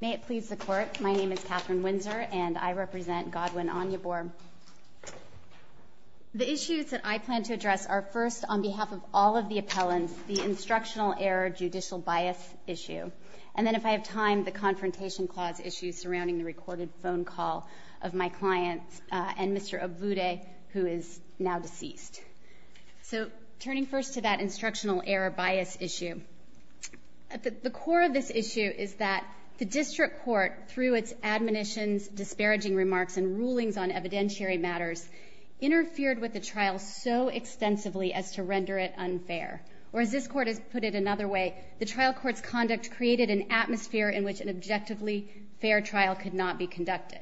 May it please the Court, my name is Katherine Windsor, and I represent Godwin Onyeabor. The issues that I plan to address are first, on behalf of all of the appellants, the Instructional Error Judicial Bias issue, and then if I have time, the Confrontation Clause issues surrounding the recorded phone call of my client and Mr. Obude, who is now deceased. So turning first to that Instructional Error Bias issue, the core of this issue is that the District Court, through its admonitions, disparaging remarks, and rulings on evidentiary matters, interfered with the trial so extensively as to render it unfair. Or as this Court has put it another way, the trial court's conduct created an atmosphere in which an objectively fair trial could not be conducted.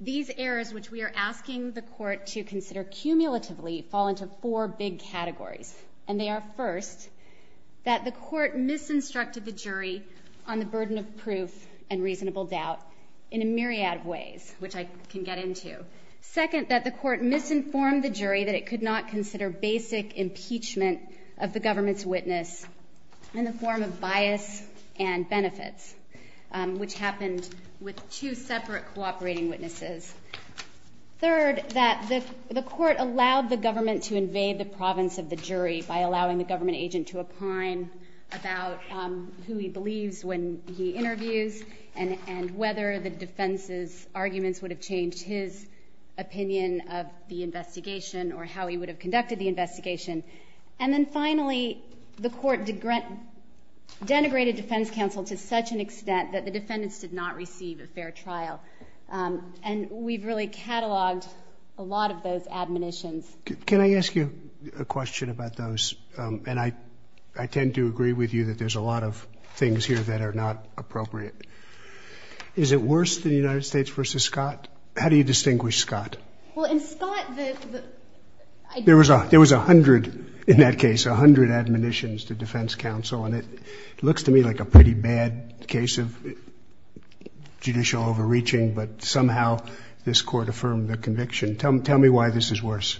These errors, which we are asking the Court to consider cumulatively, fall into four big categories, and they are first, that the Court misinstructed the jury on the burden of proof and reasonable doubt in a myriad of ways, which I can get into. Second, that the Court misinformed the jury that it could not consider basic impeachment of the government's witness in the form of bias and benefits, which happened with two defendants. Third, that the Court allowed the government to invade the province of the jury by allowing the government agent to opine about who he believes when he interviews and whether the defense's arguments would have changed his opinion of the investigation or how he would have conducted the investigation. And then finally, the Court denigrated Defense Counsel to such an extent that the defendants did not receive a fair trial. And we've really Can I ask you a question about those? And I tend to agree with you that there's a lot of things here that are not appropriate. Is it worse than the United States versus Scott? How do you distinguish Scott? Well, in Scott, the... There was a hundred in that case, a hundred admonitions to Defense Counsel, and it looks to me like a pretty bad case of judicial overreaching, but somehow this Court affirmed the conviction. Tell me why this is worse.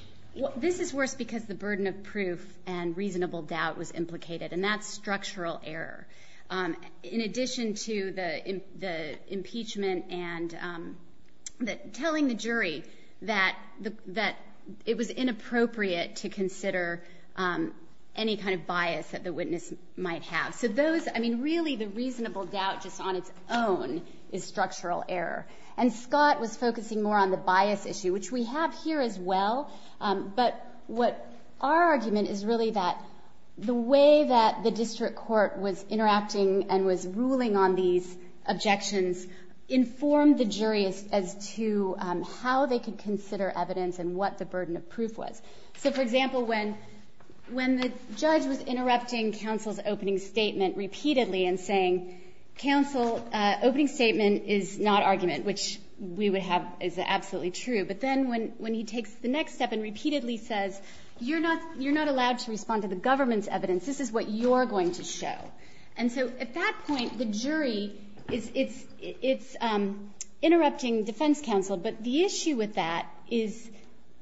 This is worse because the burden of proof and reasonable doubt was implicated, and that's structural error. In addition to the impeachment and telling the jury that it was inappropriate to consider any kind of bias that the witness might have. So those, I mean, really the reasonable doubt just on its own is structural error. And Scott was focusing more on the bias issue, which we have here as well. But what our argument is really that the way that the district court was interacting and was ruling on these objections informed the jury as to how they could consider evidence and what the burden of proof was. So for example, when the judge was interrupting counsel's opening statement repeatedly and saying, counsel, opening statement is not valid. And then when he takes the next step and repeatedly says, you're not allowed to respond to the government's evidence. This is what you're going to show. And so at that point, the jury is interrupting defense counsel. But the issue with that is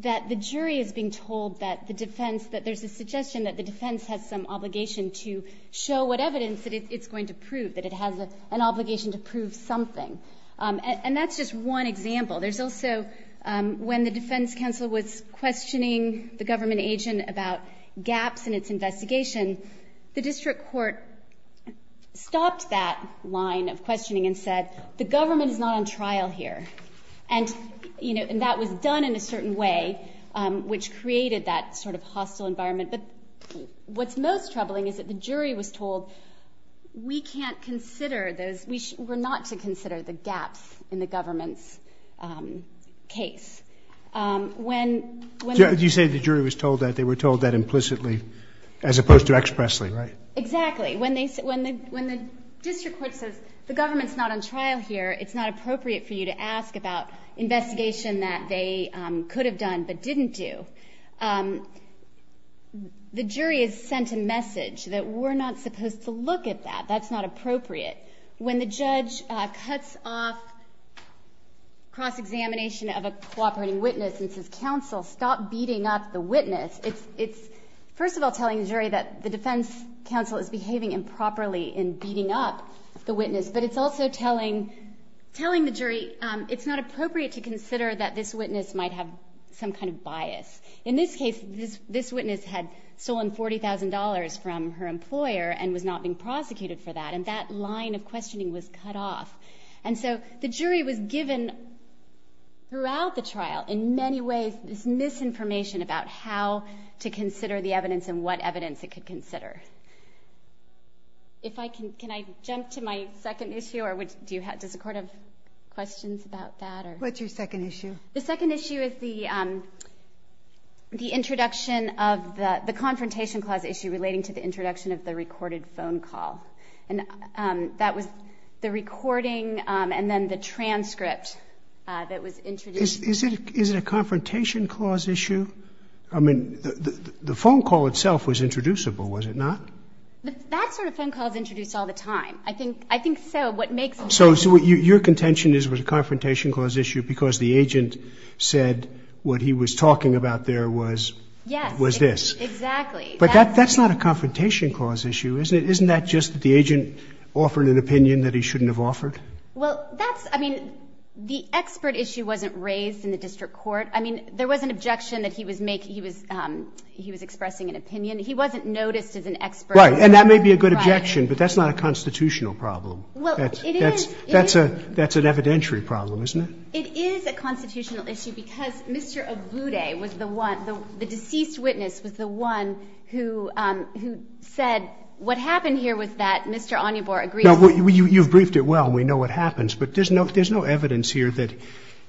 that the jury is being told that the defense, that there's a suggestion that the defense has some obligation to show what evidence that it's going to prove, that it has an obligation to prove something. And that's just one example. There's also when the defense counsel was questioning the government agent about gaps in its investigation, the district court stopped that line of questioning and said, the government is not on trial here. And that was done in a certain way, which created that sort of hostile environment. But what's most troubling is that the jury was told, we can't consider those, we're not to consider the gaps in the government's case. When, when you say the jury was told that they were told that implicitly as opposed to expressly, right? Exactly. When they, when the, when the district court says the government's not on trial here, it's not appropriate for you to ask about investigation that they could have done, but didn't do. The jury has sent a message that we're not supposed to look at that. That's not appropriate. When the judge cuts off cross-examination of a cooperating witness and says, counsel, stop beating up the witness. It's, it's first of all telling the jury that the defense counsel is behaving improperly in beating up the witness, but it's also telling, telling the jury it's not appropriate to consider that this witness might have some kind of bias. In this case, this witness had stolen $40,000 from her employer and was not being prosecuted for that. And that line of questioning was cut off. And so the jury was given throughout the trial in many ways, this misinformation about how to consider the evidence and what evidence it could consider. If I can, can I jump to my second issue or do you have, does the court have questions about that? What's your second issue? The second issue is the, um, the introduction of the, the confrontation clause issue relating to the introduction of the recorded phone call. And, um, that was the recording, um, and then the transcript, uh, that was introduced. Is it, is it a confrontation clause issue? I mean, the, the phone call itself was introducible, was it not? That sort of phone calls introduced all the time. I think, I think so. What makes it? So, so what your contention is was a confrontation clause issue because the agent said what he was talking about there was, was this. Exactly. But that, that's not a confrontation clause issue, isn't it? Isn't that just that the agent offered an opinion that he shouldn't have offered? Well, that's, I mean, the expert issue wasn't raised in the district court. I mean, there was an objection that he was making. He was, um, he was expressing an opinion. He wasn't noticed as an expert. And that may be a good objection, but that's not a constitutional problem. That's, that's a, that's an evidentiary problem, isn't it? It is a constitutional issue because Mr. Abude was the one, the deceased witness was the one who, um, who said what happened here was that Mr. Anyabur agreed with. You've briefed it well. We know what happens, but there's no, there's no evidence here that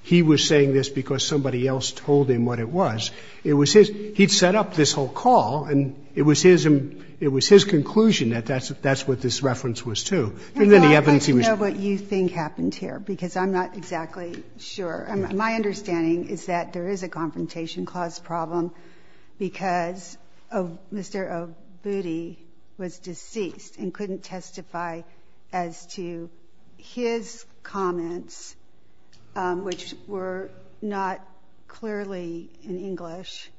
he was saying this because somebody else told him what it was. It was his, he'd set up this whole call and it was his, it was his conclusion that that's, that's what this reference was to. And then the evidence he was. I'd like to know what you think happened here, because I'm not exactly sure. My understanding is that there is a confrontation clause problem because of Mr. Abude was deceased and couldn't testify as to his comments, which were not clearly in English.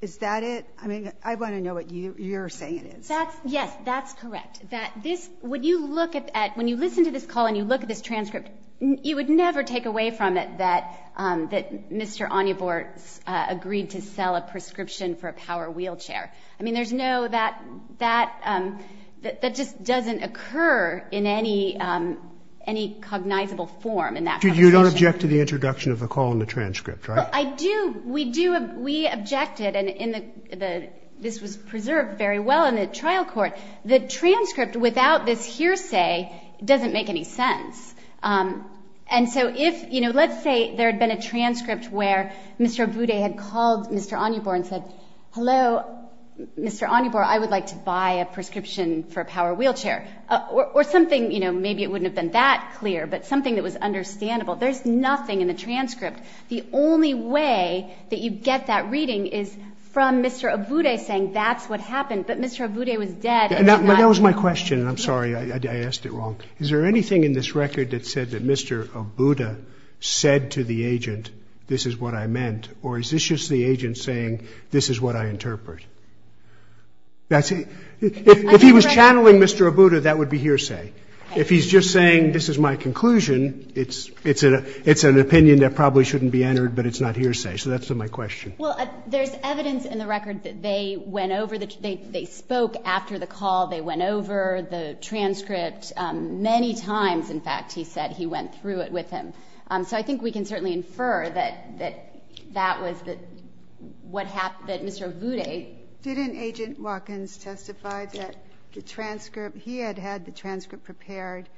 Is that it? I mean, I want to know what you, you're saying it is. That's, yes, that's correct. That this, when you look at, when you listen to this call and you look at this transcript, you would never take away from it that, um, that Mr. Anyabur, uh, agreed to sell a prescription for a power wheelchair. I mean, there's no, that, that, um, that, that just doesn't occur in any, um, any cognizable form in that conversation. You don't object to the introduction of the call in the transcript, right? I do. We do. We objected. And in the, the, this was preserved very well in the trial court. The transcript without this hearsay doesn't make any sense. Um, and so if, you know, let's say there had been a transcript where Mr. Abude had called Mr. Anyabur and said, hello, Mr. Anyabur, I would like to buy a prescription for a power wheelchair or, or something, you know, maybe it wouldn't have been that clear, but something that was understandable. There's nothing in the transcript. The only way that you get that reading is from Mr. Abude saying, that's what happened, but Mr. Abude was dead. And that was my question. And I'm sorry, I asked it wrong. Is there anything in this record that said that Mr. Abude said to the agent, this is what I meant, or is this just the agent saying, this is what I interpret? That's it. If he was channeling Mr. Abude, that would be hearsay. If he's just saying, this is my conclusion, it's, it's a, it's an opinion that probably shouldn't be entered, but it's not hearsay. So that's my question. Well, there's evidence in the record that they went over the, they, they spoke after the call, they went over the transcript, um, many times. In fact, he said he went through it with him. Um, so I think we can certainly infer that, that, that was the, what happened, that Mr. Abude. Didn't Agent Watkins testify that the transcript, he had had the transcript prepared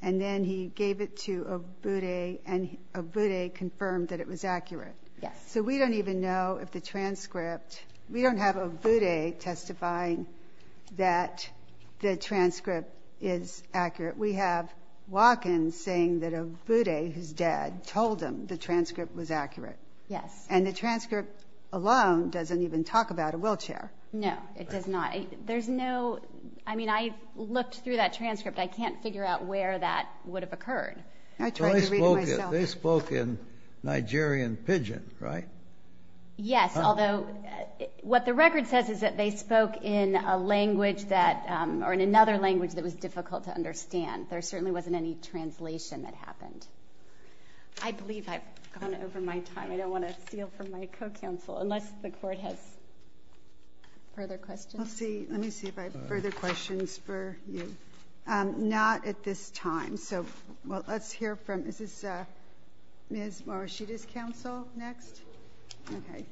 and then he gave it to Abude and Abude confirmed that it was accurate. Yes. So we don't even know if the transcript, we don't have Abude testifying that the transcript is accurate. We have Watkins saying that Abude, who's dead, told him the transcript was accurate. Yes. And the transcript alone doesn't even talk about a wheelchair. No, it does not. There's no, I mean, I looked through that transcript. I can't figure out where that would have occurred. I tried to read it myself. They spoke in Nigerian Pidgin, right? Yes. Although what the record says is that they spoke in a language that, um, or in another language that was difficult to understand. There certainly wasn't any translation that happened. I believe I've gone over my time. I don't want to steal from my co-counsel unless the court has further questions. Let's see. Let me see if I have further questions for you. Um, not at this time. So, well, let's hear from, is this, uh, Ms. Morishita's counsel next? Okay.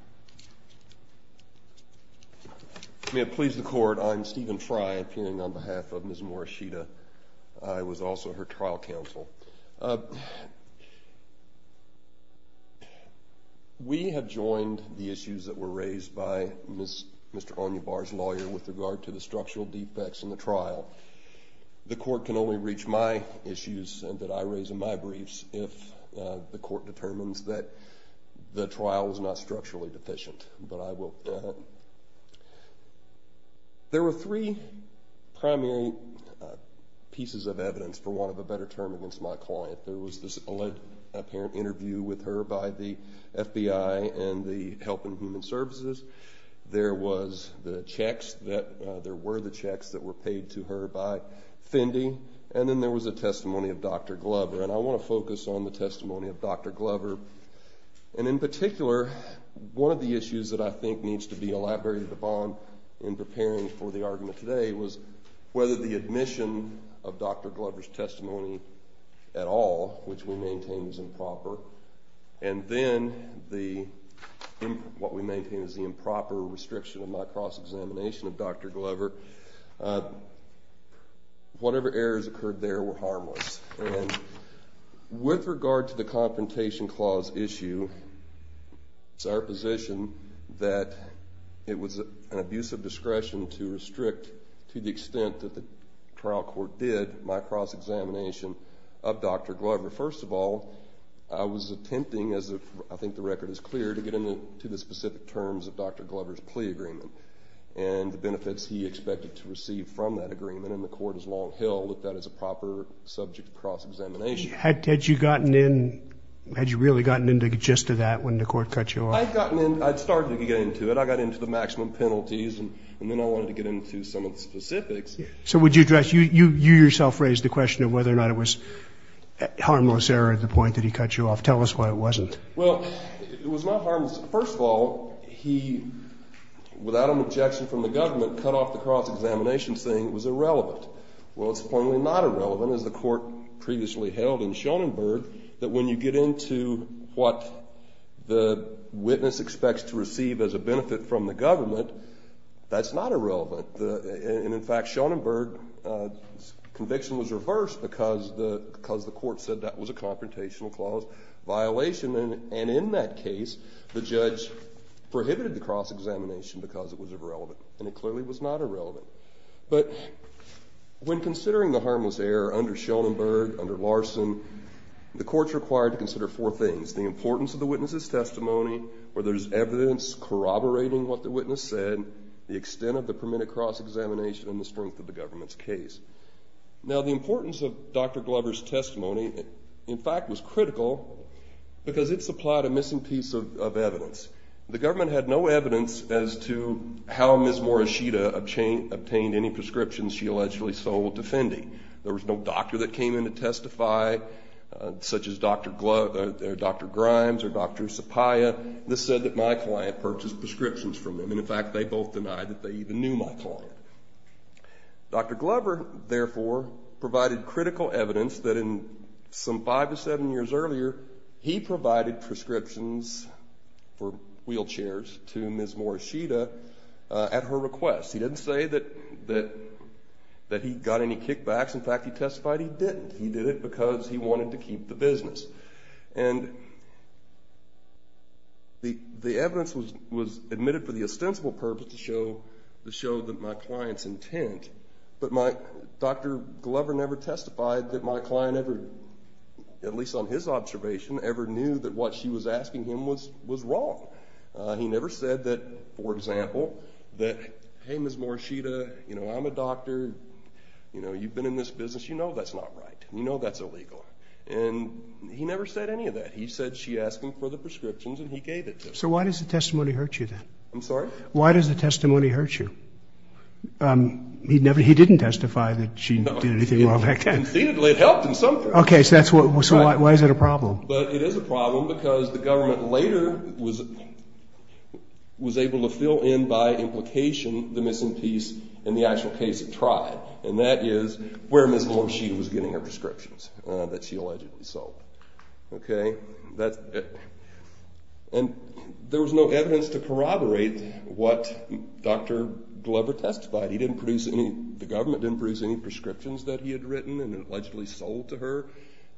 May it please the court. I'm Stephen Fry, appearing on behalf of Ms. Morishita. I was also her trial counsel. Uh, we have joined the issues that were raised by Ms., Mr. Onyibar's lawyer with regard to the structural defects in the trial. The court can only reach my briefs if, uh, the court determines that the trial was not structurally deficient, but I won't doubt it. There were three primary, uh, pieces of evidence for want of a better term against my client. There was this alleged apparent interview with her by the FBI and the Health and Human Services. There was the checks that, uh, there were the checks that were paid to her by Fendi. And then there was a testimony of Dr. Glover. And I want to focus on the testimony of Dr. Glover. And in particular, one of the issues that I think needs to be elaborated upon in preparing for the argument today was whether the admission of Dr. Glover's testimony at all, which we maintain is improper, and then the, what we maintain is the improper restriction of my cross-examination of Dr. Glover. Uh, whatever errors occurred there were harmless. And with regard to the Confrontation Clause issue, it's our position that it was an abuse of discretion to restrict, to the extent that the trial court did, my cross-examination of Dr. Glover. First of all, I was attempting, as I think the record is clear, to get into the specific terms of Dr. Glover's plea agreement and the benefits he expected to receive from that agreement. And the court has long held that that is a proper subject of cross-examination. Had you gotten in, had you really gotten into the gist of that when the court cut you off? I'd gotten in, I'd started to get into it. I got into the maximum penalties and then I wanted to get into some of the specifics. So would you address, you yourself raised the question of whether or not it was harmless error at the point that he cut you off. Tell us why it wasn't. Well, it was not harmless. First of all, he, without an objection from the government, cut off the cross-examination saying it was irrelevant. Well, it's plainly not irrelevant, as the court previously held in Schoenenberg, that when you get into what the witness expects to receive as a benefit from the government, that's not irrelevant. And in fact, Schoenenberg's conviction was reversed because the court said that was a confrontational clause violation. And in that case, the judge prohibited the cross-examination because it was irrelevant. And it clearly was not irrelevant. But when considering the harmless error under Schoenenberg, under Larson, the court's required to consider four things. The importance of the witness's testimony, whether there's evidence corroborating what the witness said, the extent of the permitted cross-examination, and the strength of the fact was critical because it supplied a missing piece of evidence. The government had no evidence as to how Ms. Morishita obtained any prescriptions she allegedly sold to Fendi. There was no doctor that came in to testify, such as Dr. Grimes or Dr. Sapaya. This said that my client purchased prescriptions from them. And in fact, they both denied that they even knew my client. Dr. Glover, therefore, provided critical evidence that in some five to seven years earlier, he provided prescriptions for wheelchairs to Ms. Morishita at her request. He didn't say that he got any kickbacks. In fact, he testified he didn't. He did it because he wanted to keep the business. And the evidence was admitted for the ostensible purpose to show that my client's intent. But Dr. Glover never testified that my client ever, at least on his observation, ever knew that what she was asking him was wrong. He never said that, for example, that, hey, Ms. Morishita, you know, I'm a doctor. You know, you've been in this business. You know that's not right. You know that's illegal. And he never said any of that. He said she asked him for the prescriptions and he gave it to her. So why does the testimony hurt you, then? I'm sorry? Why does the testimony hurt you? He didn't testify that she did anything wrong back then. No, conceitedly, it helped in some way. Okay, so why is it a problem? But it is a problem because the government later was able to fill in by implication the missing piece in the actual case of TRIAD. And that is where Ms. Morishita was getting her prescriptions that she allegedly sold. Okay? And there was no evidence to corroborate what Dr. Glover testified. He didn't produce any, the government didn't produce any prescriptions that he had written and allegedly sold to her.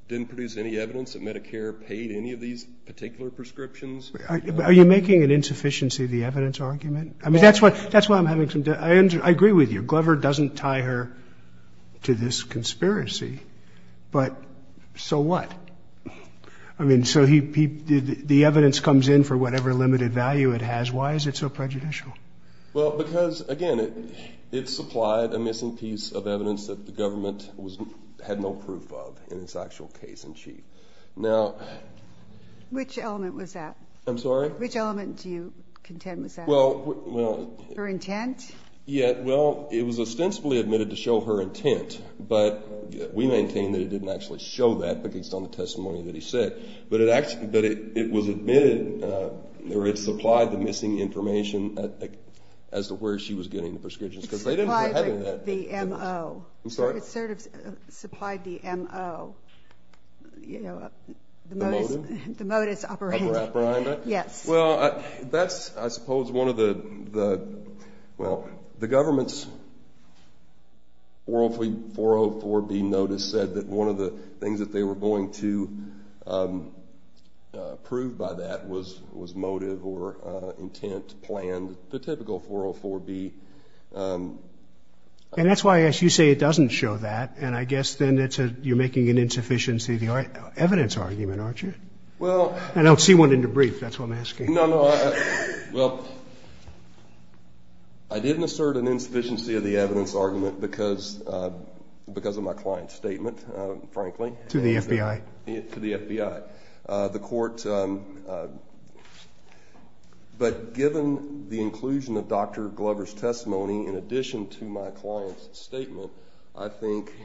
Didn't produce any evidence that Medicare paid any of these particular prescriptions. Are you making an insufficiency of the evidence argument? I mean, that's why I'm having some, I agree with you. Glover doesn't tie her to this conspiracy, but so what? I mean, so he, the evidence comes in for whatever limited value it has. Why is it so prejudicial? Well, because, again, it supplied a missing piece of evidence that the government was, had no proof of in its actual case in chief. Now... Which element was that? I'm sorry? Which element do you contend was that? Well, well... Her intent? Yeah, well, it was ostensibly admitted to show her intent, but we maintain that it didn't actually show that based on the testimony that he said. But it actually, that it was admitted, or it supplied the missing information as to where she was getting the prescriptions. Because they didn't have any of that evidence. It supplied the M.O. I'm sorry? It sort of supplied the M.O., you know, the modus operandi. The modus? The modus operandi. Yes. Well, that's, I suppose, one of the, well, the government's 404B notice said that one of the things that they were going to prove by that was motive or intent, plan, the typical 404B... And that's why, as you say, it doesn't show that, and I guess then it's a, you're making an insufficiency of the evidence argument, aren't you? Well... I don't see one in your brief, that's what I'm asking. No, no, I, well, I didn't assert an insufficiency of the evidence argument because of my client's statement, frankly. To the FBI. To the FBI. The court, but given the inclusion of Dr. Glover's testimony, in addition to my client's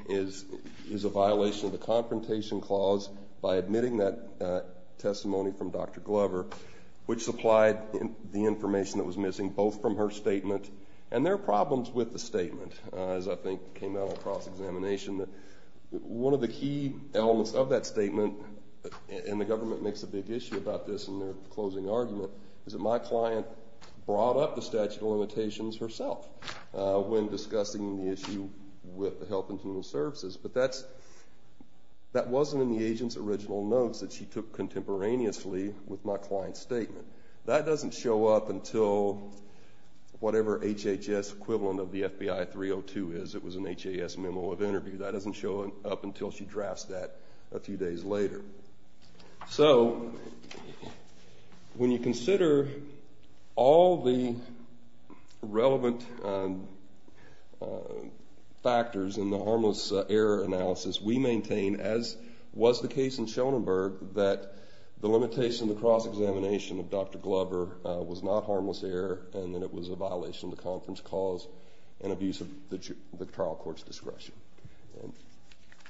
is a violation of the confrontation clause by admitting that testimony from Dr. Glover, which supplied the information that was missing, both from her statement, and there are problems with the statement, as I think came out in cross-examination, that one of the key elements of that statement, and the government makes a big issue about this in their closing argument, is that my client brought up the statute of limitations herself when discussing the issue with the Health and Human Services, but that's, that wasn't in the agent's original notes that she took contemporaneously with my client's statement. That doesn't show up until whatever HHS equivalent of the FBI 302 is, it was an HHS memo of interview, that doesn't show up until she drafts that a few days later. So, when you consider all the relevant factors in the harmless error analysis, we maintain, as was the case in Schoenberg, that the limitation of the cross-examination of Dr. Glover was not harmless error, and that it was a violation of the conference clause, and abuse of the trial court's discretion.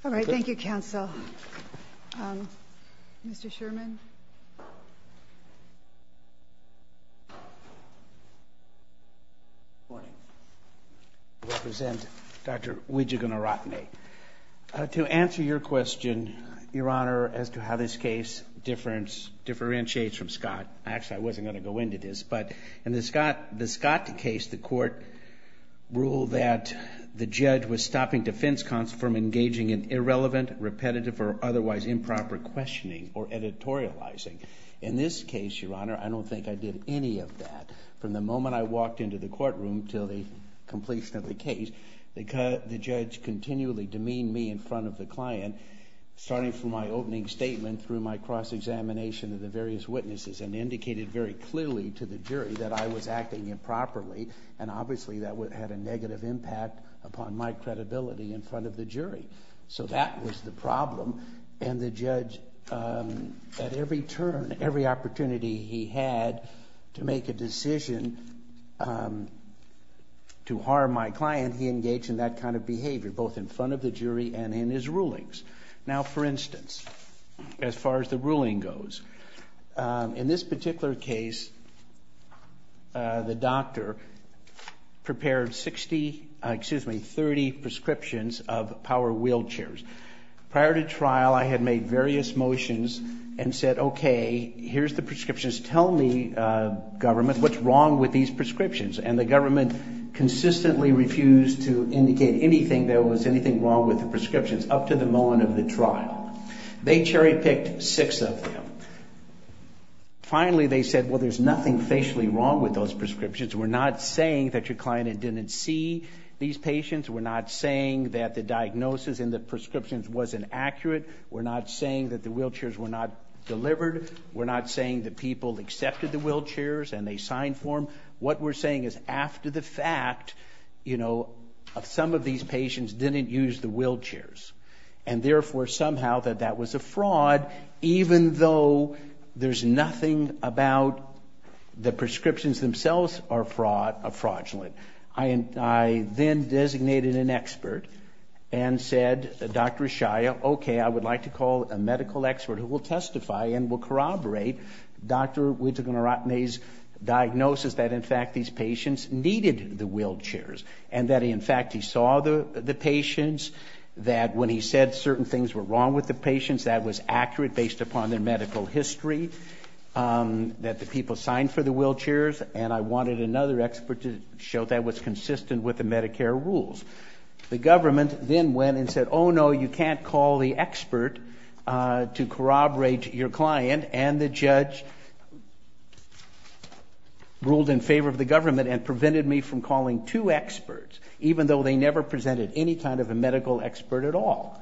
All right, thank you, counsel. Mr. Sherman? Good morning. I represent Dr. Wijegunaratne. To answer your question, Your Honor, as to how this case differentiates from Scott, actually I wasn't going to go into this, but in the Scott case, the court ruled that the judge was stopping defense counsel from engaging in irrelevant, repetitive, or otherwise improper questioning or editorializing. In this case, Your Honor, I don't think I did any of that. From the moment I walked into the courtroom until the completion of the case, the judge continually demeaned me in front of the client, starting from my opening statement through my cross-examination of the various witnesses, and indicated very clearly to the jury that I was acting improperly, and obviously that had a negative impact upon my credibility in front of the jury. So that was the problem, and the judge, at every turn, every opportunity he had to make a decision to harm my client, he engaged in that kind of behavior, both in front of the jury and in his rulings. Now, for instance, as far as the ruling goes, in this particular case, the doctor prepared 60, excuse me, 30 prescriptions of power wheelchairs. Prior to trial, I had made various motions and said, okay, here's the prescriptions. Tell me, government, what's wrong with these prescriptions, and the government consistently refused to indicate anything, there was anything wrong with the prescriptions, up to the moment of the trial. They cherry-picked six of them. Finally, they said, well, there's nothing facially wrong with those prescriptions. We're not saying that your client didn't see these patients. We're not saying that the diagnosis in the prescriptions wasn't accurate. We're not saying that the wheelchairs were not delivered. We're not saying that people accepted the wheelchairs and they signed for them. What we're saying is after the fact, you know, some of these patients didn't use the wheelchairs, and therefore, somehow, that that was a fraud, even though there's nothing about the prescriptions themselves are fraudulent. I then designated an expert and said, Dr. Ishaya, okay, I would like to call a medical expert who will testify and will corroborate Dr. Wittekunaratne's diagnosis that, in fact, these patients needed the wheelchairs, and that, in fact, he saw the patients, that when he said certain things were wrong with the patients, that was accurate based upon their medical history, that the people signed for the wheelchairs, and I wanted another expert to show that was consistent with the Medicare rules. The government then went and said, oh, no, you can't call the expert to corroborate your client, and the judge ruled in favor of the government and prevented me from calling two experts, even though they never presented any kind of a medical expert at all.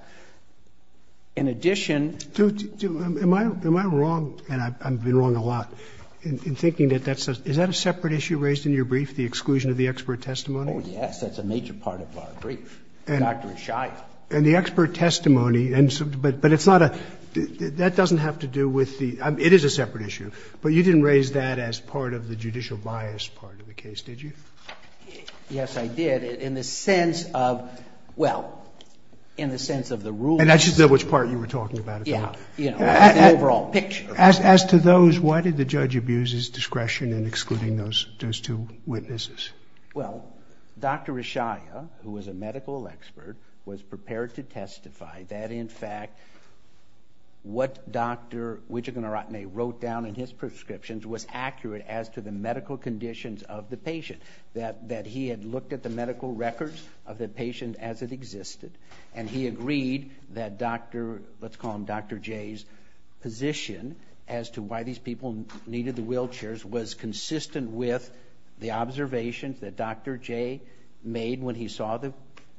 In addition— Am I wrong, and I've been wrong a lot, in thinking that that's—is that a separate issue raised in your brief, the exclusion of the expert testimony? Oh, yes, that's a major part of our brief, Dr. Ishaya. And the expert testimony, but it's not a—that doesn't have to do with the—it is a separate issue, but you didn't raise that as part of the judicial bias part of the case, did you? Yes, I did, in the sense of—well, in the sense of the rules— And that's just not which part you were talking about at the time. Yeah, you know, that overall picture. As to those, why did the judge abuse his discretion in excluding those two witnesses? Well, Dr. Ishaya, who was a medical expert, was prepared to testify that, in fact, what Dr. Wijegunaratne wrote down in his prescriptions was accurate as to the medical conditions of the patient, that he had looked at the medical records of the patient as it existed, and he agreed that Dr.—let's call him Dr. Jay's—position as to why these people needed the wheelchairs was consistent with the observations that Dr. Jay made when he saw the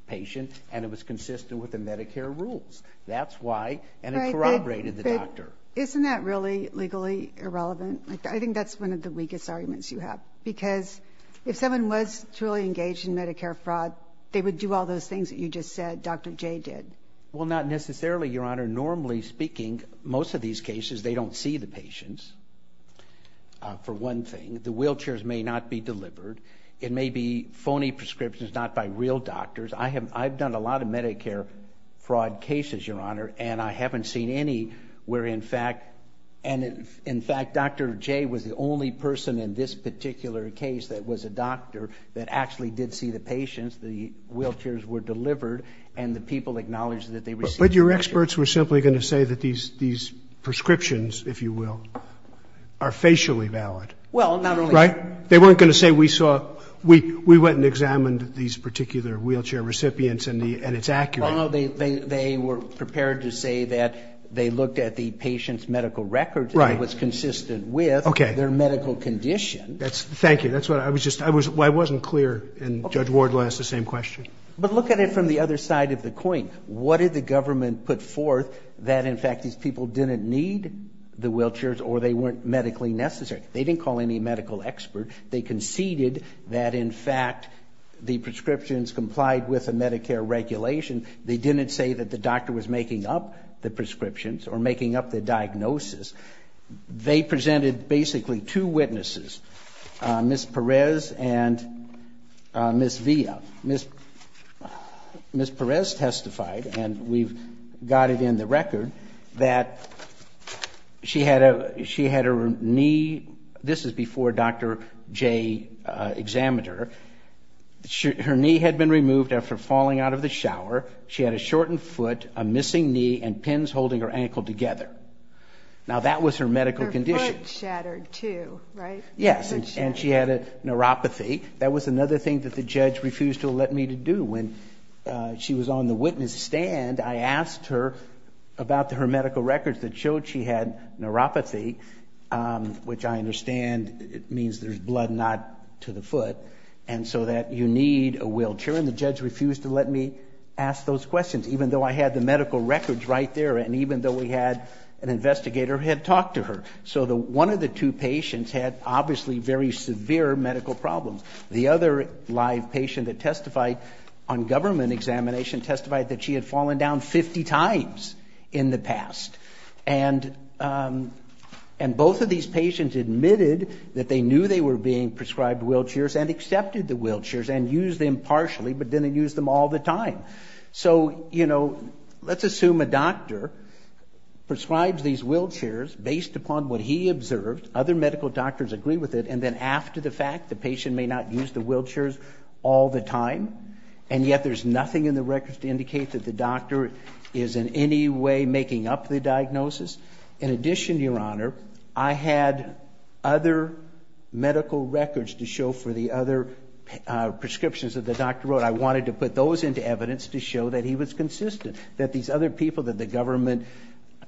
patient, and it was consistent with the Medicare rules. That's why—and it corroborated the doctor. Isn't that really legally irrelevant? I think that's one of the weakest arguments you have, because if someone was truly engaged in Medicare fraud, they would do all those things that you just said Dr. Jay did. Well, not necessarily, Your Honor. Normally speaking, most of these cases, they don't see the patients, for one thing. The wheelchairs may not be delivered. It may be phony prescriptions, not by real doctors. I've done a lot of Medicare fraud cases, Your Honor, and I haven't seen any where, in fact—and, in fact, Dr. Jay was the only person in this particular case that was a doctor that actually did see the patients, the wheelchairs were delivered, and the people acknowledged that they received the patient. But your experts were simply going to say that these prescriptions, if you will, are facially valid. Well, not only— Right? They weren't going to say we saw—we went and examined these particular wheelchair recipients and it's accurate. Well, no. They were prepared to say that they looked at the patient's medical records and it was consistent with their medical condition. Okay. Thank you. That's what I was just—I wasn't clear, and Judge Ward will ask the same question. But look at it from the other side of the coin. What did the government put forth that, in fact, these people didn't need the wheelchairs or they weren't medically necessary? They didn't call any medical experts. They conceded that, in fact, the prescriptions complied with a Medicare regulation. They didn't say that the doctor was making up the prescriptions or making up the diagnosis. They presented basically two witnesses, Ms. Perez and Ms. Villa. Ms. Perez testified, and we've got it in the record, that she had her knee—this is before Dr. J examined her. Her knee had been removed after falling out of the shower. She had a shortened foot, a missing knee, and pins holding her ankle together. Now that was her medical condition. Her foot shattered, too, right? Yes. And she had a neuropathy. That was another thing that the judge refused to let me to do. When she was on the witness stand, I asked her about her medical records that showed she had neuropathy, which I understand means there's blood not to the foot, and so that you need a wheelchair, and the judge refused to let me ask those questions, even though I had the medical records right there and even though we had an investigator who had talked to her. So one of the two patients had obviously very severe medical problems. The other live patient that testified on government examination testified that she had fallen down 50 times in the past, and both of these patients admitted that they knew they were being prescribed wheelchairs and accepted the wheelchairs and used them partially but didn't use them all the time. So, you know, let's assume a doctor prescribes these wheelchairs based upon what he observed. Other medical doctors agree with it, and then after the fact, the patient may not use the wheelchairs all the time, and yet there's nothing in the records to indicate that the doctor is in any way making up the diagnosis. In addition, Your Honor, I had other medical records to show for the other prescriptions that the doctor wrote. But I wanted to put those into evidence to show that he was consistent, that these other people that the government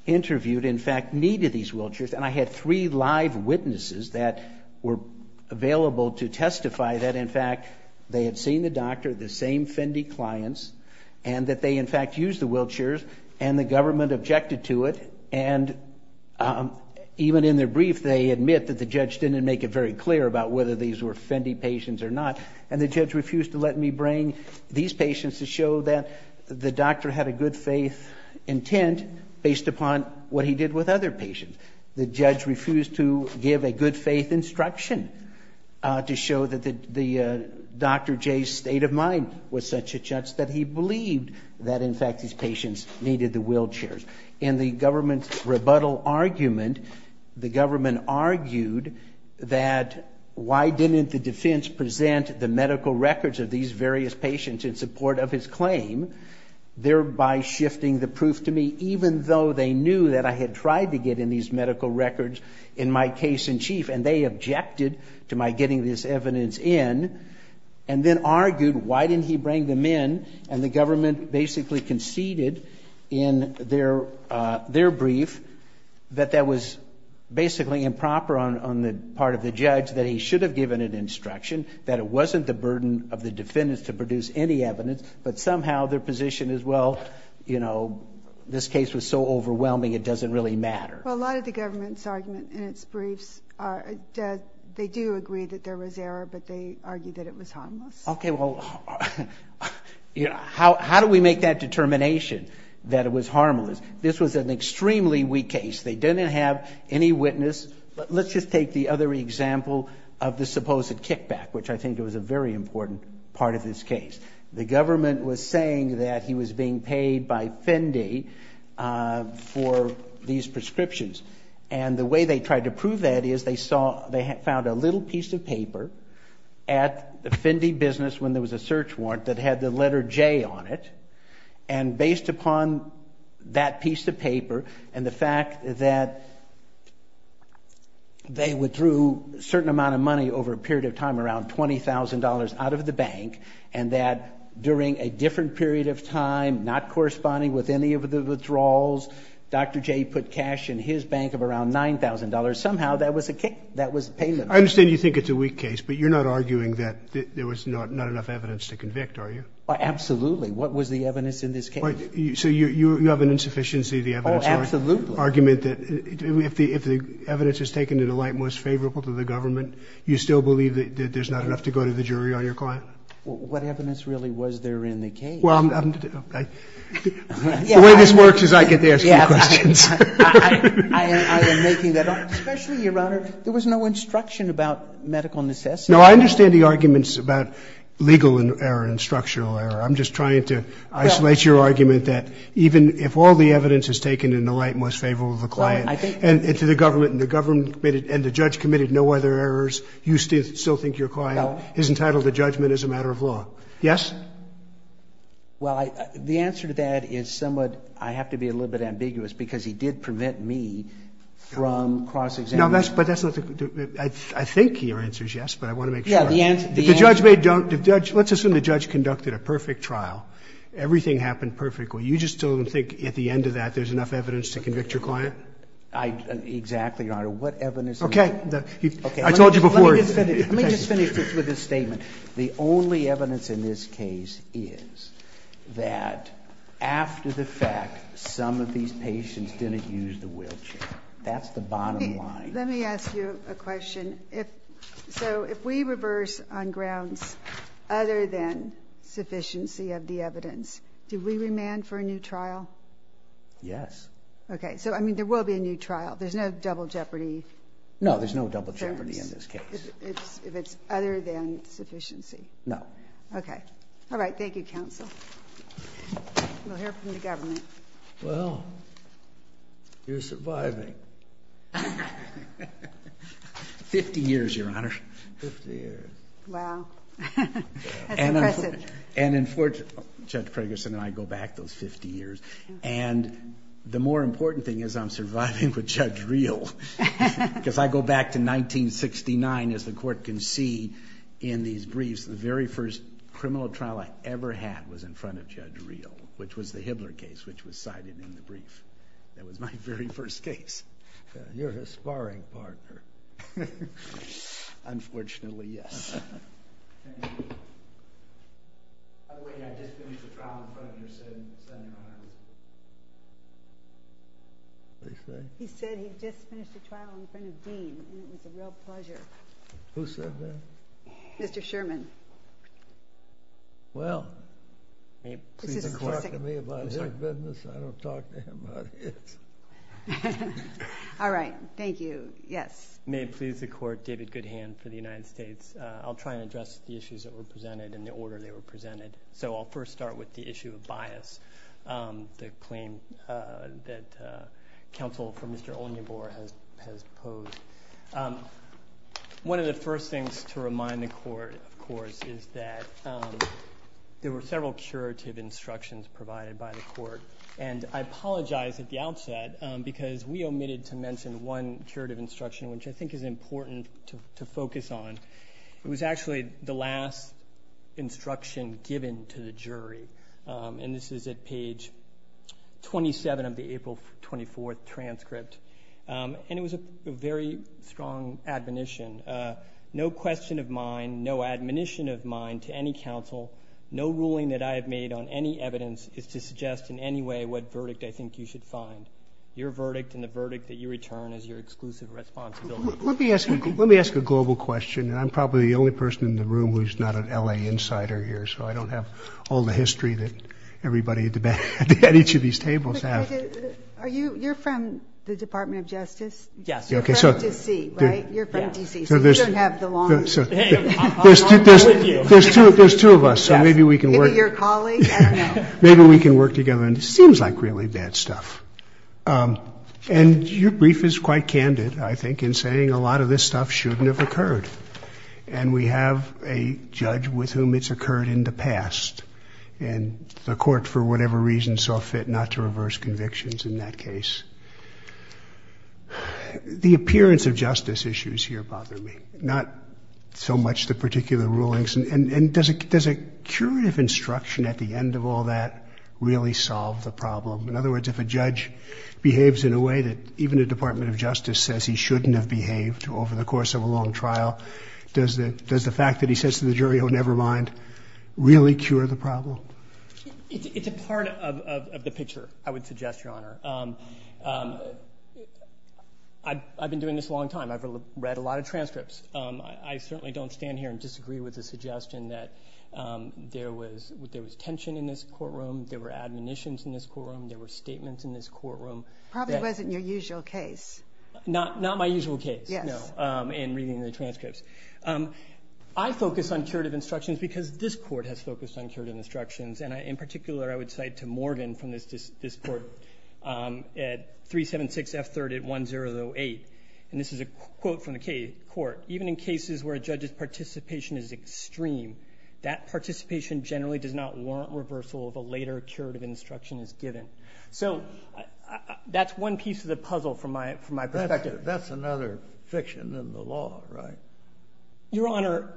interviewed, in fact, needed these wheelchairs. And I had three live witnesses that were available to testify that, in fact, they had seen the doctor, the same Fendi clients, and that they, in fact, used the wheelchairs, and the government objected to it. And even in their brief, they admit that the judge didn't make it very clear about whether these were Fendi patients or not, and the judge refused to let me bring these patients to show that the doctor had a good faith intent based upon what he did with other patients. The judge refused to give a good faith instruction to show that the Dr. J's state of mind was such a judge that he believed that, in fact, these patients needed the wheelchairs. In the government's rebuttal argument, the government argued that, why didn't the defense present the medical records of these various patients in support of his claim, thereby shifting the proof to me, even though they knew that I had tried to get in these medical records in my case in chief, and they objected to my getting this evidence in, and then argued, why didn't he bring them in? And the government basically conceded in their brief that that was basically improper on the part of the judge, that he should have given an instruction, that it wasn't the burden of the defendants to produce any evidence, but somehow their position is, well, you know, this case was so overwhelming, it doesn't really matter. Well, a lot of the government's argument in its briefs are that they do agree that there was error, but they argue that it was harmless. Okay, well, you know, how do we make that determination that it was harmless? This was an extremely weak case. They didn't have any witness, but let's just take the other example of the supposed kickback, which I think was a very important part of this case. The government was saying that he was being paid by Fendi for these prescriptions, and the way they tried to prove that is, they saw, they found a little piece of paper at the Fendi business when there was a search warrant that had the letter J on it, and based upon that piece of paper and the fact that they withdrew a certain amount of money over a period of time, around $20,000 out of the bank, and that during a different period of time, not corresponding with any of the withdrawals, Dr. J put cash in his bank of around $9,000, somehow that was a kick, that was a payment. I understand you think it's a weak case, but you're not arguing that there was not enough evidence to convict, are you? Absolutely. What was the evidence in this case? So you have an insufficiency of the evidence argument that if the evidence is taken in a light most favorable to the government, you still believe that there's not enough to go to the jury on your client? What evidence really was there in the case? Well, the way this works is I get to ask you questions. I am making that up. Especially, Your Honor, there was no instruction about medical necessity. No, I understand the arguments about legal error and structural error. I'm just trying to isolate your argument that even if all the evidence is taken in the light most favorable to the client and to the government, and the government committed and the judge committed no other errors, you still think your client is entitled to judgment as a matter of law. Yes? Well, the answer to that is somewhat ‑‑ I have to be a little bit ambiguous because he did prevent me from cross‑examining. No, but that's not the ‑‑ I think your answer is yes, but I want to make sure. Yeah, the answer ‑‑ The judge may don't ‑‑ let's assume the judge conducted a perfect trial. Everything happened perfectly. You just don't think at the end of that there's enough evidence to convict your client? Exactly, Your Honor. What evidence ‑‑ Okay. I told you before. Okay. Let me just finish this with a statement. The only evidence in this case is that after the fact, some of these patients didn't use the wheelchair. That's the bottom line. Let me ask you a question. So if we reverse on grounds other than sufficiency of the evidence, do we remand for a new trial? Yes. Okay. So, I mean, there will be a new trial. There's no double jeopardy? No, there's no double jeopardy in this case. If it's other than sufficiency? No. Okay. All right. Thank you, counsel. We'll hear from the government. Well, you're surviving. Fifty years, Your Honor. Fifty years. Wow. That's impressive. And unfortunately, Judge Ferguson and I go back those fifty years, and the more important thing is I'm surviving with Judge Reel, because I go back to 1969, as the court can see in these briefs. The very first criminal trial I ever had was in front of Judge Reel, which was the Hibbler case, which was cited in the brief. That was my very first case. You're a sparring partner. Unfortunately, yes. He said he'd just finished a trial in front of Dean, and it was a real pleasure. Who said that? Mr. Sherman. Well, may it please the Court for me about his business? I don't talk to him about his. All right. Thank you. Yes. May it please the Court, David Goodhand for the United States. I'll try and address the issues that were presented and the order they were presented. So I'll first start with the issue of bias, the claim that counsel for Mr. Ognibor has posed. One of the first things to remind the Court, of course, is that there were several curative instructions provided by the Court, and I apologize at the outset, because we omitted to mention one curative instruction, which I think is important to focus on. It was actually the last instruction given to the jury, and this is at page 27 of the April 24th transcript, and it was a very strong admonition. No question of mine, no admonition of mine to any counsel, no ruling that I have made on any evidence is to suggest in any way what verdict I think you should find. Your verdict and the verdict that you return is your exclusive responsibility. Let me ask a global question, and I'm probably the only person in the room who's not an L.A. insider here, so I don't have all the history that everybody at each of these tables have. You're from the Department of Justice? Yes. You're from D.C., right? You're from D.C. So you don't have the long list. Hey, I'm on board with you. There's two of us, so maybe we can work. Yes. Maybe you're colleagues? I don't know. Maybe we can work together, and it seems like really bad stuff. And your brief is quite candid, I think, in saying a lot of this stuff shouldn't have occurred, and we have a judge with whom it's occurred in the past, and the Court, for whatever reason, saw fit not to reverse convictions in that case. The appearance of justice issues here bother me, not so much the particular rulings. And does a curative instruction at the end of all that really solve the problem? In other words, if a judge behaves in a way that even the Department of Justice says he shouldn't have behaved over the course of a long trial, does the fact that he says to the jury, oh, never mind, really cure the problem? It's a part of the picture, I would suggest, Your Honor. I've been doing this a long time. I've read a lot of transcripts. I certainly don't stand here and disagree with the suggestion that there was tension in this courtroom, there were admonitions in this courtroom, there were statements in this courtroom. Probably it wasn't your usual case. Not my usual case, no, in reading the transcripts. I focus on curative instructions because this Court has focused on curative instructions, and in particular, I would cite to Morgan from this Court at 376 F. 3rd at 1008, and this is a quote from the Court, even in cases where a judge's participation is extreme, that participation generally does not warrant reversal of a later curative instruction as given. So that's one piece of the puzzle from my perspective. That's another fiction in the law, right? Your Honor,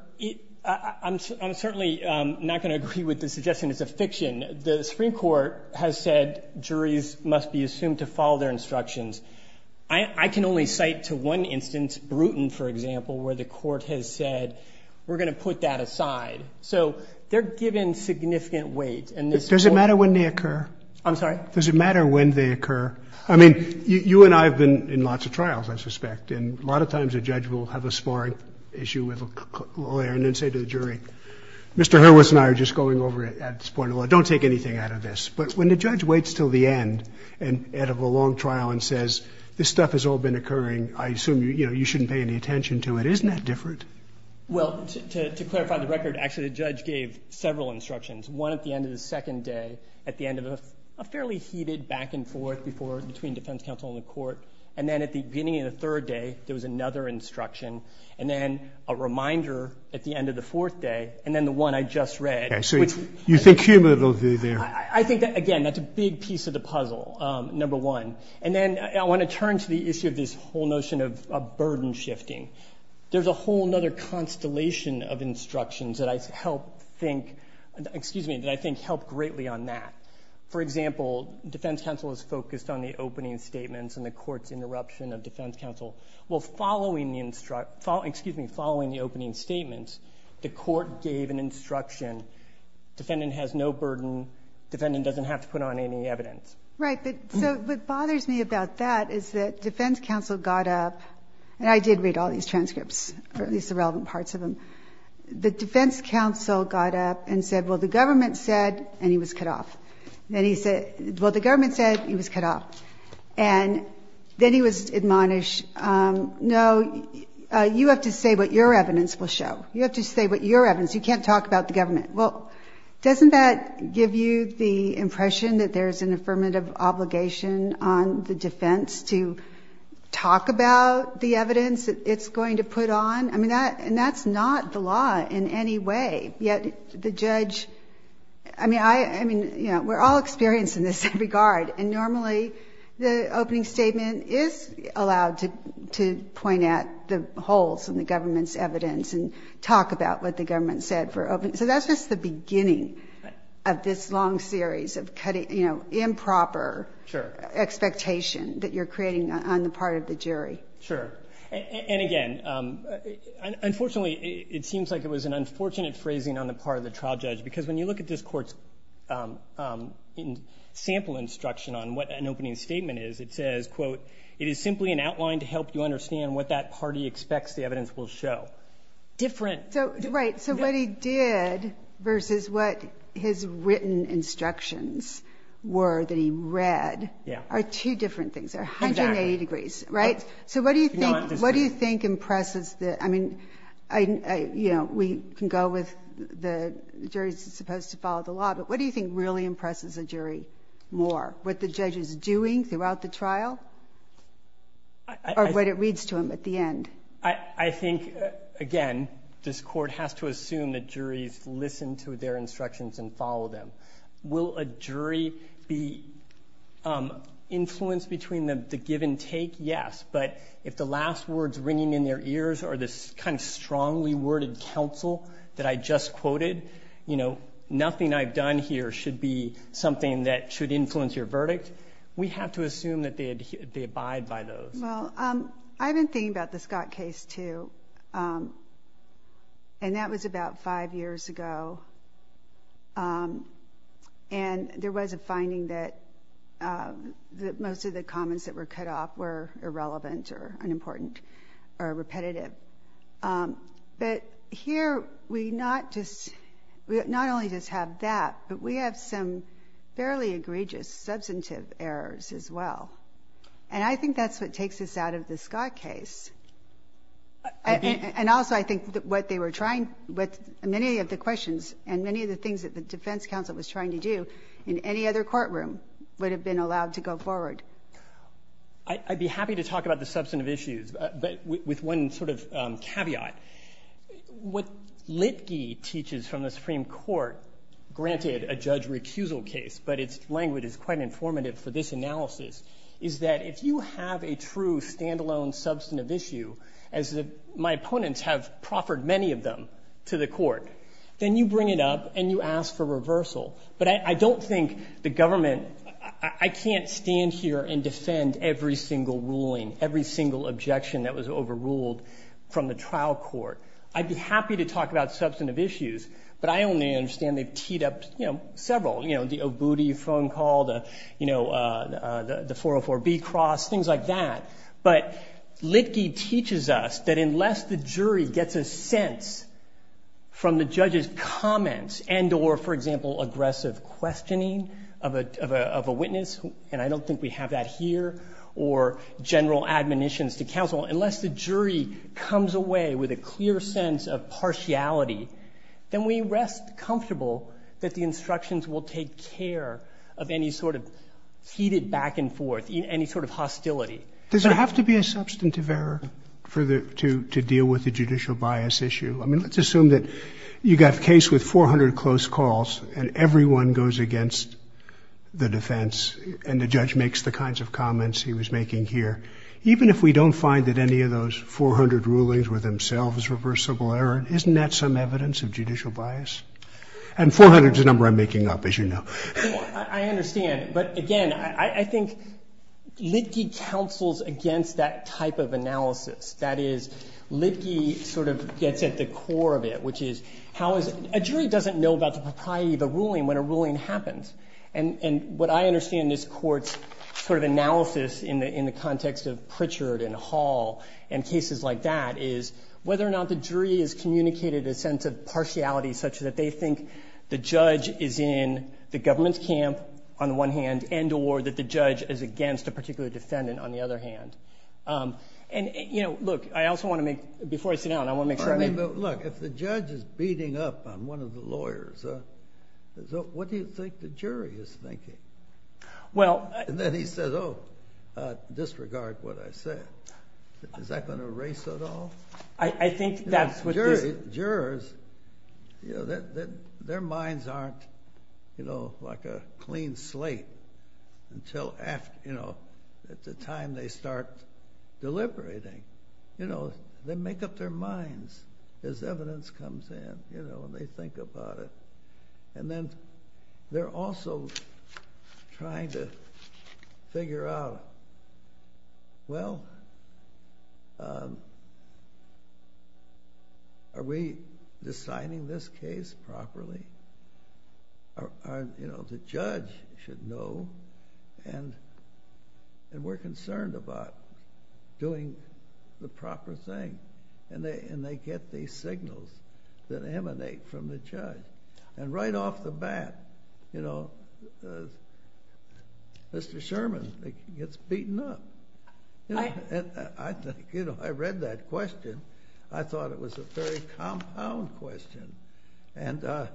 I'm certainly not going to agree with the suggestion it's a fiction. The Supreme Court has said juries must be assumed to follow their instructions. I can only cite to one instance, Bruton, for example, where the Court has said, we're going to put that aside. So they're given significant weight. Does it matter when they occur? I'm sorry? Does it matter when they occur? I mean, you and I have been in lots of trials, I suspect, and a lot of times a judge will have a sparring issue with a lawyer and then say to the jury, Mr. Hurwitz and I are just going over it at this point in the law, don't take anything out of this. But when the judge waits until the end and out of a long trial and says, this stuff has all been occurring, I assume you shouldn't pay any attention to it. Isn't that different? Well, to clarify the record, actually the judge gave several instructions. One at the end of the second day, at the end of a fairly heated back and forth between defense counsel and the Court, and then at the beginning of the third day, there was another instruction, and then a reminder at the end of the fourth day, and then the one I just read. Okay. So you think Huber will be there? I think that, again, that's a big piece of the puzzle, number one. And then I want to turn to the issue of this whole notion of burden shifting. There's a whole other constellation of instructions that I think help greatly on that. For example, defense counsel is focused on the opening statements and the Court's interruption of defense counsel. Well, following the opening statements, the Court gave an instruction, defendant has no burden, defendant doesn't have to put on any evidence. Right. So what bothers me about that is that defense counsel got up, and I did read all these transcripts, or at least the relevant parts of them. The defense counsel got up and said, well, the government said, and he was cut off. And he said, well, the government said, he was cut off. And then he was admonished, no, you have to say what your evidence will show. You have to say what your evidence, you can't talk about the government. Well, doesn't that give you the impression that there's an affirmative obligation on the defense to talk about the evidence that it's going to put on? I mean, and that's not the law in any way, yet the judge, I mean, we're all experienced in this regard. And normally, the opening statement is allowed to point at the holes in the government's evidence and talk about what the government said for opening. So that's just the beginning of this long series of improper expectation that you're creating on the part of the jury. Sure. And again, unfortunately, it seems like it was an unfortunate phrasing on the part of the trial judge. Because when you look at this court's sample instruction on what an opening statement is, it says, quote, it is simply an outline to help you understand what that party expects the evidence will show. Different. Right. So what he did versus what his written instructions were that he read are two different things. They're 180 degrees. Right. So what do you think impresses the, I mean, we can go with the jury's supposed to follow the law, but what do you think really impresses the jury more? What the judge is doing throughout the trial? Or what it reads to him at the end? I think, again, this court has to assume that juries listen to their instructions and follow them. Will a jury be influenced between the give and take? Yes. But if the last words ringing in their ears are this kind of strongly worded counsel that I just quoted, you know, nothing I've done here should be something that should influence your verdict. We have to assume that they abide by those. Well, I've been thinking about the Scott case too. And that was about five years ago. And there was a finding that most of the comments that were cut off were irrelevant or unimportant or repetitive. But here we not just, we not only just have that, but we have some fairly egregious substantive errors as well. And I think that's what takes us out of the Scott case. And also I think what they were trying, many of the questions and many of the things that the defense counsel was trying to do in any other courtroom would have been allowed to go forward. I'd be happy to talk about the substantive issues, but with one sort of caveat. What Litge teaches from the Supreme Court, granted a judge recusal case, but its language is quite informative for this analysis, is that if you have a true standalone substantive issue, as my opponents have proffered many of them to the court, then you bring it up and you ask for reversal. But I don't think the government, I can't stand here and defend every single ruling, every single objection that was overruled from the trial court. I'd be happy to talk about substantive issues, but I only understand they've teed up several, the Obudi phone call, the 404B cross, things like that. But Litge teaches us that unless the jury gets a sense from the judge's comments and or, for example, aggressive questioning of a witness, and I don't think we have that here, or general admonitions to counsel, unless the jury comes away with a clear sense of take care of any sort of heated back and forth, any sort of hostility. Does there have to be a substantive error for the, to deal with the judicial bias issue? I mean, let's assume that you got a case with 400 close calls and everyone goes against the defense and the judge makes the kinds of comments he was making here. Even if we don't find that any of those 400 rulings were themselves reversible error, isn't that some evidence of judicial bias? And 400 is a number I'm making up, as you know. I understand, but again, I think Litge counsels against that type of analysis. That is, Litge sort of gets at the core of it, which is, how is, a jury doesn't know about the propriety of a ruling when a ruling happens. And what I understand in this court's sort of analysis in the context of Pritchard and Hall and cases like that is whether or not the jury has communicated a sense of partiality such that they think the judge is in the government's camp, on the one hand, and or that the judge is against a particular defendant, on the other hand. And you know, look, I also want to make, before I sit down, I want to make sure I make... I mean, but look, if the judge is beating up on one of the lawyers, what do you think the jury is thinking? Well... And then he says, oh, disregard what I said. Is that going to erase it all? I think that's what this... Well, jurors, you know, their minds aren't, you know, like a clean slate until after, you know, at the time they start deliberating. You know, they make up their minds as evidence comes in, you know, and they think about it. And then they're also trying to figure out, well, are we deciding this case properly? You know, the judge should know, and we're concerned about doing the proper thing. And they get these signals that emanate from the judge. And right off the bat, you know, Mr. Sherman gets beaten up. You know, and I think, you know, I read that question. I thought it was a very compound question, and there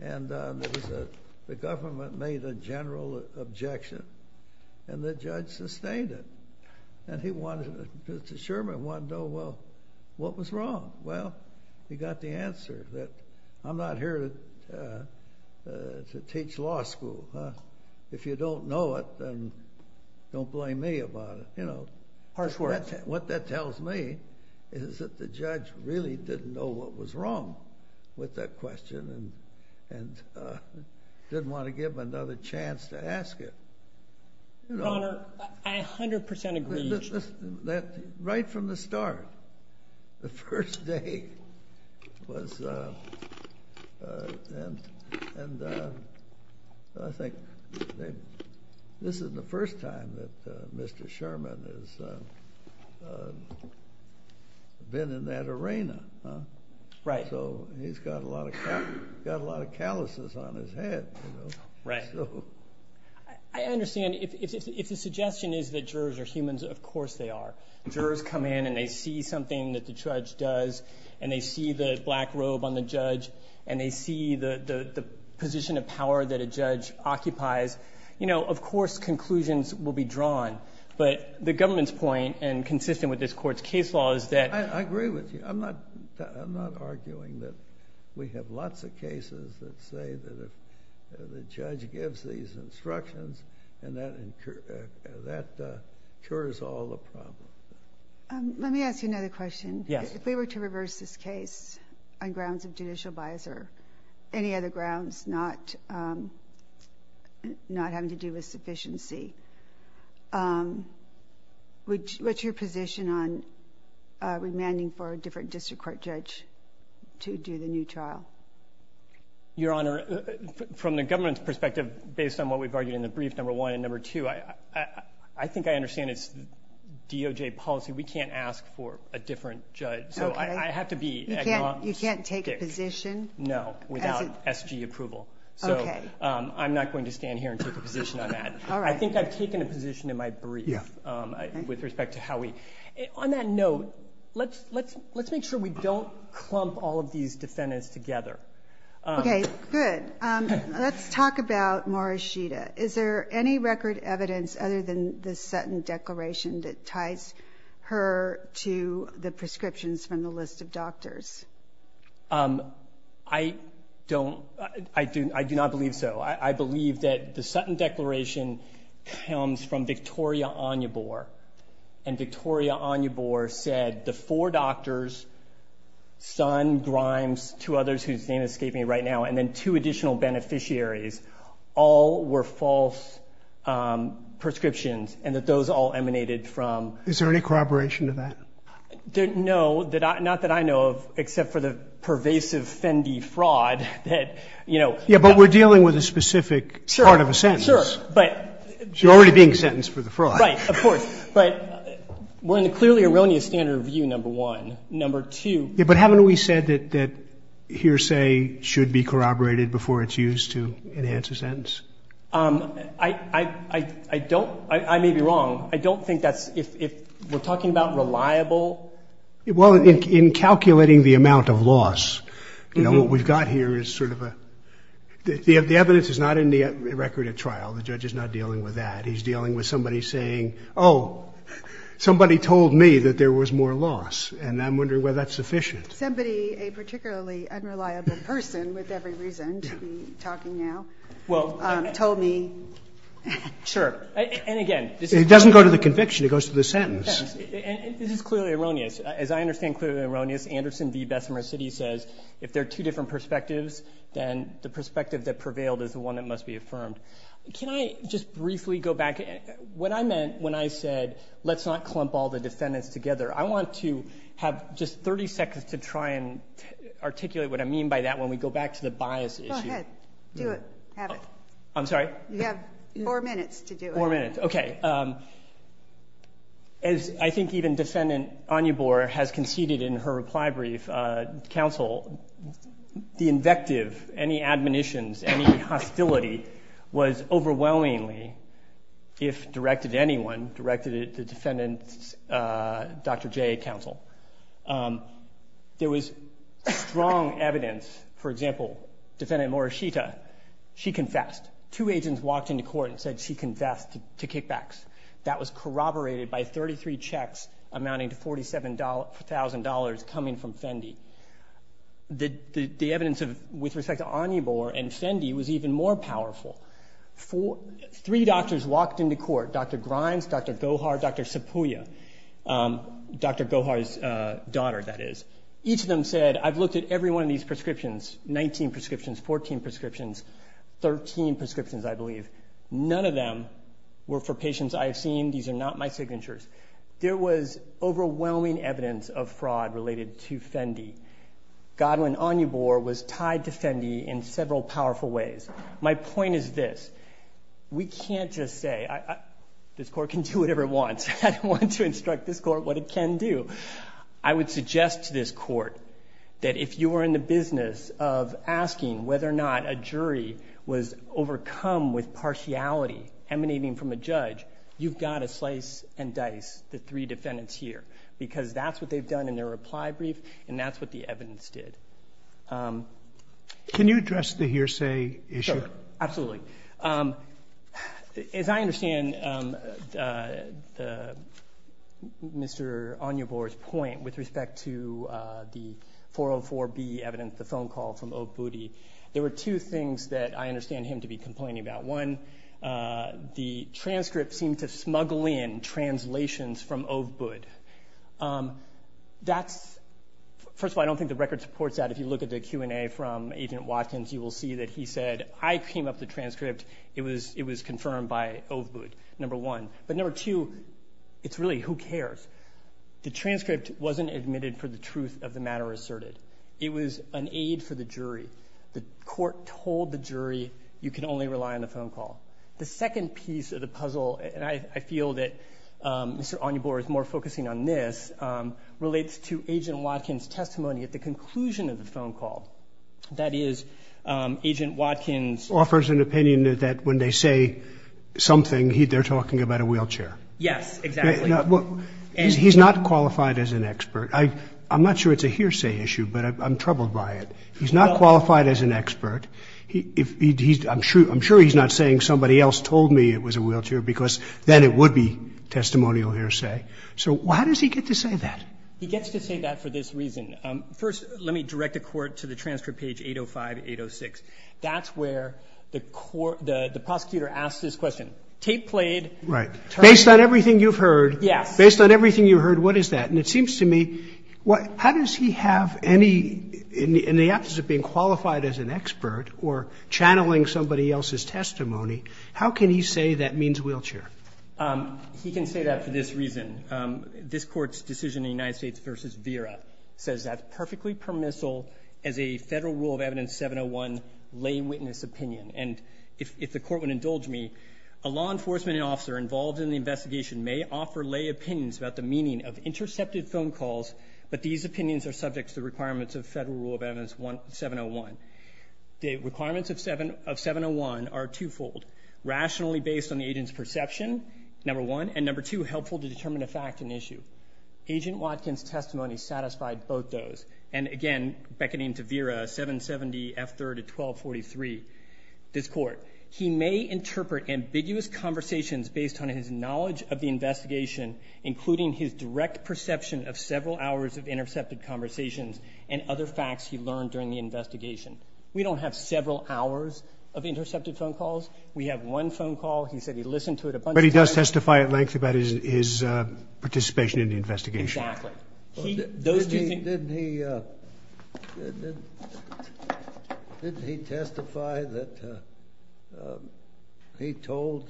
was a... The government made a general objection, and the judge sustained it. And he wanted... Mr. Sherman wanted to know, well, what was wrong? Well, he got the answer that I'm not here to teach law school. If you don't know it, then don't blame me about it. You know... Harsh words. What that tells me is that the judge really didn't know what was wrong with that question and didn't want to give him another chance to ask it. Your Honor, I 100% agree. Listen, right from the start, the first day was... And I think this is the first time that Mr. Sherman has been in that arena. Right. So he's got a lot of calluses on his head. Right. I understand. If the suggestion is that jurors are humans, of course they are. Jurors come in, and they see something that the judge does, and they see the black robe on the judge, and they see the position of power that a judge occupies. You know, of course, conclusions will be drawn. But the government's point, and consistent with this Court's case law, is that... I agree with you. I'm not arguing that we have lots of cases that say that the judge gives these instructions, and that cures all the problems. Let me ask you another question. Yes. If we were to reverse this case on grounds of judicial bias or any other grounds not having to do with sufficiency, what's your position on remanding for a different district court judge to do the new trial? Your Honor, from the government's perspective, based on what we've argued in the brief, number one. And number two, I think I understand it's DOJ policy. We can't ask for a different judge. Okay. So I have to be agnostic. You can't take a position? No, without SG approval. Okay. So I'm not going to stand here and take a position on that. All right. I think I've taken a position in my brief with respect to how we... On that note, let's make sure we don't clump all of these defendants together. Okay, good. Let's talk about Morishita. Is there any record evidence other than the Sutton Declaration that ties her to the prescriptions from the list of doctors? I do not believe so. I believe that the Sutton Declaration comes from Victoria Onyebor, and Victoria Onyebor said the four doctors, Sun, Grimes, two others whose names escape me right now, and then two additional beneficiaries all were false prescriptions and that those all emanated from... Is there any corroboration to that? No, not that I know of, except for the pervasive Fendi fraud that, you know... Yeah, but we're dealing with a specific part of a sentence. Sure, but... You're already being sentenced for the fraud. Right, of course, but we're in a clearly erroneous standard of view, number one. Number two... Yeah, but haven't we said that hearsay should be corroborated before it's used to enhance a sentence? I don't. I may be wrong. I don't think that's if we're talking about reliable... Well, in calculating the amount of loss, you know, what we've got here is sort of a... The evidence is not in the record at trial. The judge is not dealing with that. He's dealing with somebody saying, oh, somebody told me that there was more loss, and I'm wondering whether that's sufficient. Somebody, a particularly unreliable person with every reason to be talking now, told me... Sure, and again... It doesn't go to the conviction. It goes to the sentence. And this is clearly erroneous. As I understand clearly erroneous, Anderson v. Bessemer City says if there are two different perspectives, then the perspective that prevailed is the one that must be affirmed. Can I just briefly go back? What I meant when I said let's not clump all the defendants together, I want to have just 30 seconds to try and articulate what I mean by that when we go back to the bias issue. Go ahead. Do it. Have it. I'm sorry? You have four minutes to do it. Four minutes. Okay. As I think even Defendant Anyabur has conceded in her reply brief, counsel, the invective, any admonitions, any hostility was overwhelmingly, if directed to anyone, directed to Defendant Dr. J, counsel. There was strong evidence, for example, Defendant Morishita, she confessed. Two agents walked into court and said she confessed to kickbacks. That was corroborated by 33 checks amounting to $47,000 coming from Fendi. The evidence with respect to Anyabur and Fendi was even more powerful. Three doctors walked into court, Dr. Grimes, Dr. Gohar, Dr. Sapuya, Dr. Gohar's daughter, that is. Each of them said, I've looked at every one of these prescriptions, 19 prescriptions, 14 prescriptions, 13 prescriptions, I believe. None of them were for patients I have seen. These are not my signatures. There was overwhelming evidence of fraud related to Fendi. Godwin Anyabur was tied to Fendi in several powerful ways. My point is this. We can't just say this court can do whatever it wants. I don't want to instruct this court what it can do. I would suggest to this court that if you are in the business of asking whether or not a jury was overcome with partiality emanating from a judge, you've got to slice and dice the three defendants here because that's what they've done in their reply brief and that's what the evidence did. Can you address the hearsay issue? Sure. Absolutely. As I understand Mr. Anyabur's point with respect to the 404B evidence, the phone call from Ove Budde, there were two things that I understand him to be complaining about. One, the transcript seemed to smuggle in translations from Ove Budde. First of all, I don't think the record supports that. If you look at the Q&A from Agent Watkins, you will see that he said, I came up with the transcript. It was confirmed by Ove Budde, number one. But number two, it's really who cares. The transcript wasn't admitted for the truth of the matter asserted. It was an aid for the jury. The court told the jury you can only rely on the phone call. The second piece of the puzzle, and I feel that Mr. Anyabur is more focusing on this, relates to Agent Watkins' testimony at the conclusion of the phone call. That is, Agent Watkins offers an opinion that when they say something, they're talking about a wheelchair. Yes, exactly. He's not qualified as an expert. I'm not sure it's a hearsay issue, but I'm troubled by it. He's not qualified as an expert. I'm sure he's not saying somebody else told me it was a wheelchair, because then it would be testimonial hearsay. So how does he get to say that? He gets to say that for this reason. First, let me direct the court to the transcript page 805-806. That's where the prosecutor asks this question. Tape played. Right. Based on everything you've heard. Yes. Based on everything you've heard, what is that? And it seems to me, how does he have any ñ in the absence of being qualified as an expert or channeling somebody else's testimony, how can he say that means wheelchair? He can say that for this reason. This court's decision in the United States v. Vera says that's perfectly permissible as a Federal Rule of Evidence 701 lay witness opinion. And if the court would indulge me, a law enforcement officer involved in the investigation may offer lay opinions about the meaning of intercepted phone calls, but these opinions are subject to the requirements of Federal Rule of Evidence 701. The requirements of 701 are twofold. Rationally based on the agent's perception, number one, and number two, helpful to determine a fact and issue. Agent Watkins' testimony satisfied both those. And again, beckoning to Vera, 770F3-1243, this court, he may interpret ambiguous conversations based on his knowledge of the investigation, including his direct perception of several hours of intercepted conversations and other facts he learned during the investigation. We don't have several hours of intercepted phone calls. He said he listened to it a bunch of times. But he does testify at length about his participation in the investigation. Exactly. Didn't he testify that he told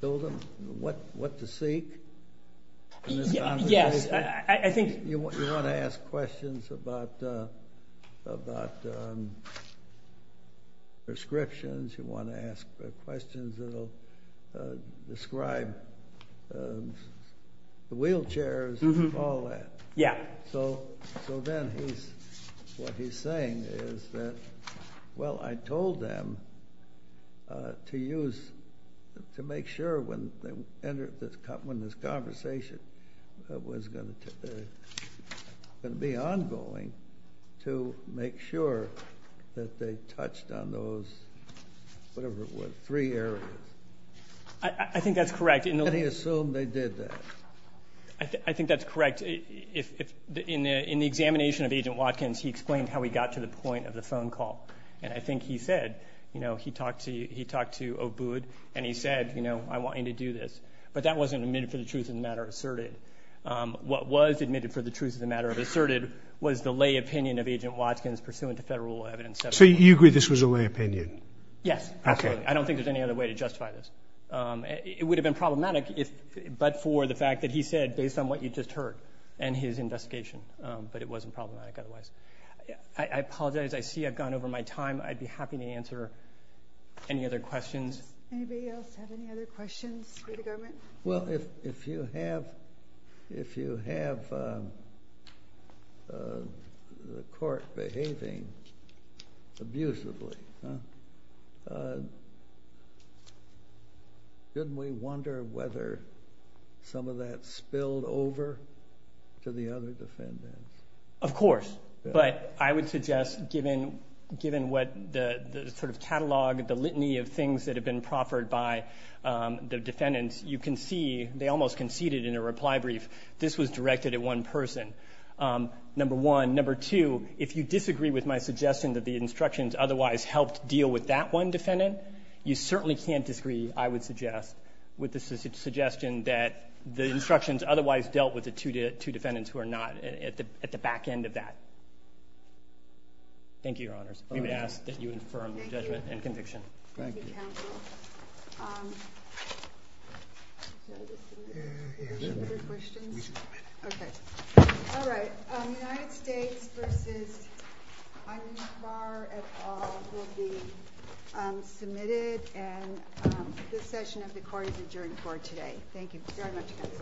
them what to seek? Yes. You want to ask questions about prescriptions, you want to ask questions that will describe the wheelchairs and all that. Yeah. So then what he's saying is that, well, I told them to make sure when this conversation was going to be ongoing to make sure that they touched on those, whatever it was, three areas. I think that's correct. And he assumed they did that. I think that's correct. In the examination of Agent Watkins, he explained how he got to the point of the phone call. And I think he said, you know, he talked to Obud, and he said, you know, I want you to do this. But that wasn't admitted for the truth of the matter asserted. What was admitted for the truth of the matter asserted was the lay opinion of Agent Watkins pursuant to federal evidence. So you agree this was a lay opinion? Yes, absolutely. I don't think there's any other way to justify this. It would have been problematic but for the fact that he said based on what you just heard and his investigation, but it wasn't problematic otherwise. I apologize. I see I've gone over my time. I'd be happy to answer any other questions. Anybody else have any other questions for the government? Well, if you have the court behaving abusively, couldn't we wonder whether some of that spilled over to the other defendants? Of course. But I would suggest given what the sort of catalog, the litany of things that have been proffered by the defendants, you can see they almost conceded in a reply brief. This was directed at one person, number one. Number two, if you disagree with my suggestion that the instructions otherwise helped deal with that one defendant, you certainly can't disagree, I would suggest, with the suggestion that the instructions otherwise dealt with the two defendants Thank you, Your Honors. We would ask that you infirm the judgment and conviction. Thank you. Thank you, counsel. Any other questions? We should go ahead. Okay. All right. United States v. Anwar et al. will be submitted, and this session of the court is adjourned for today. Thank you very much, counsel.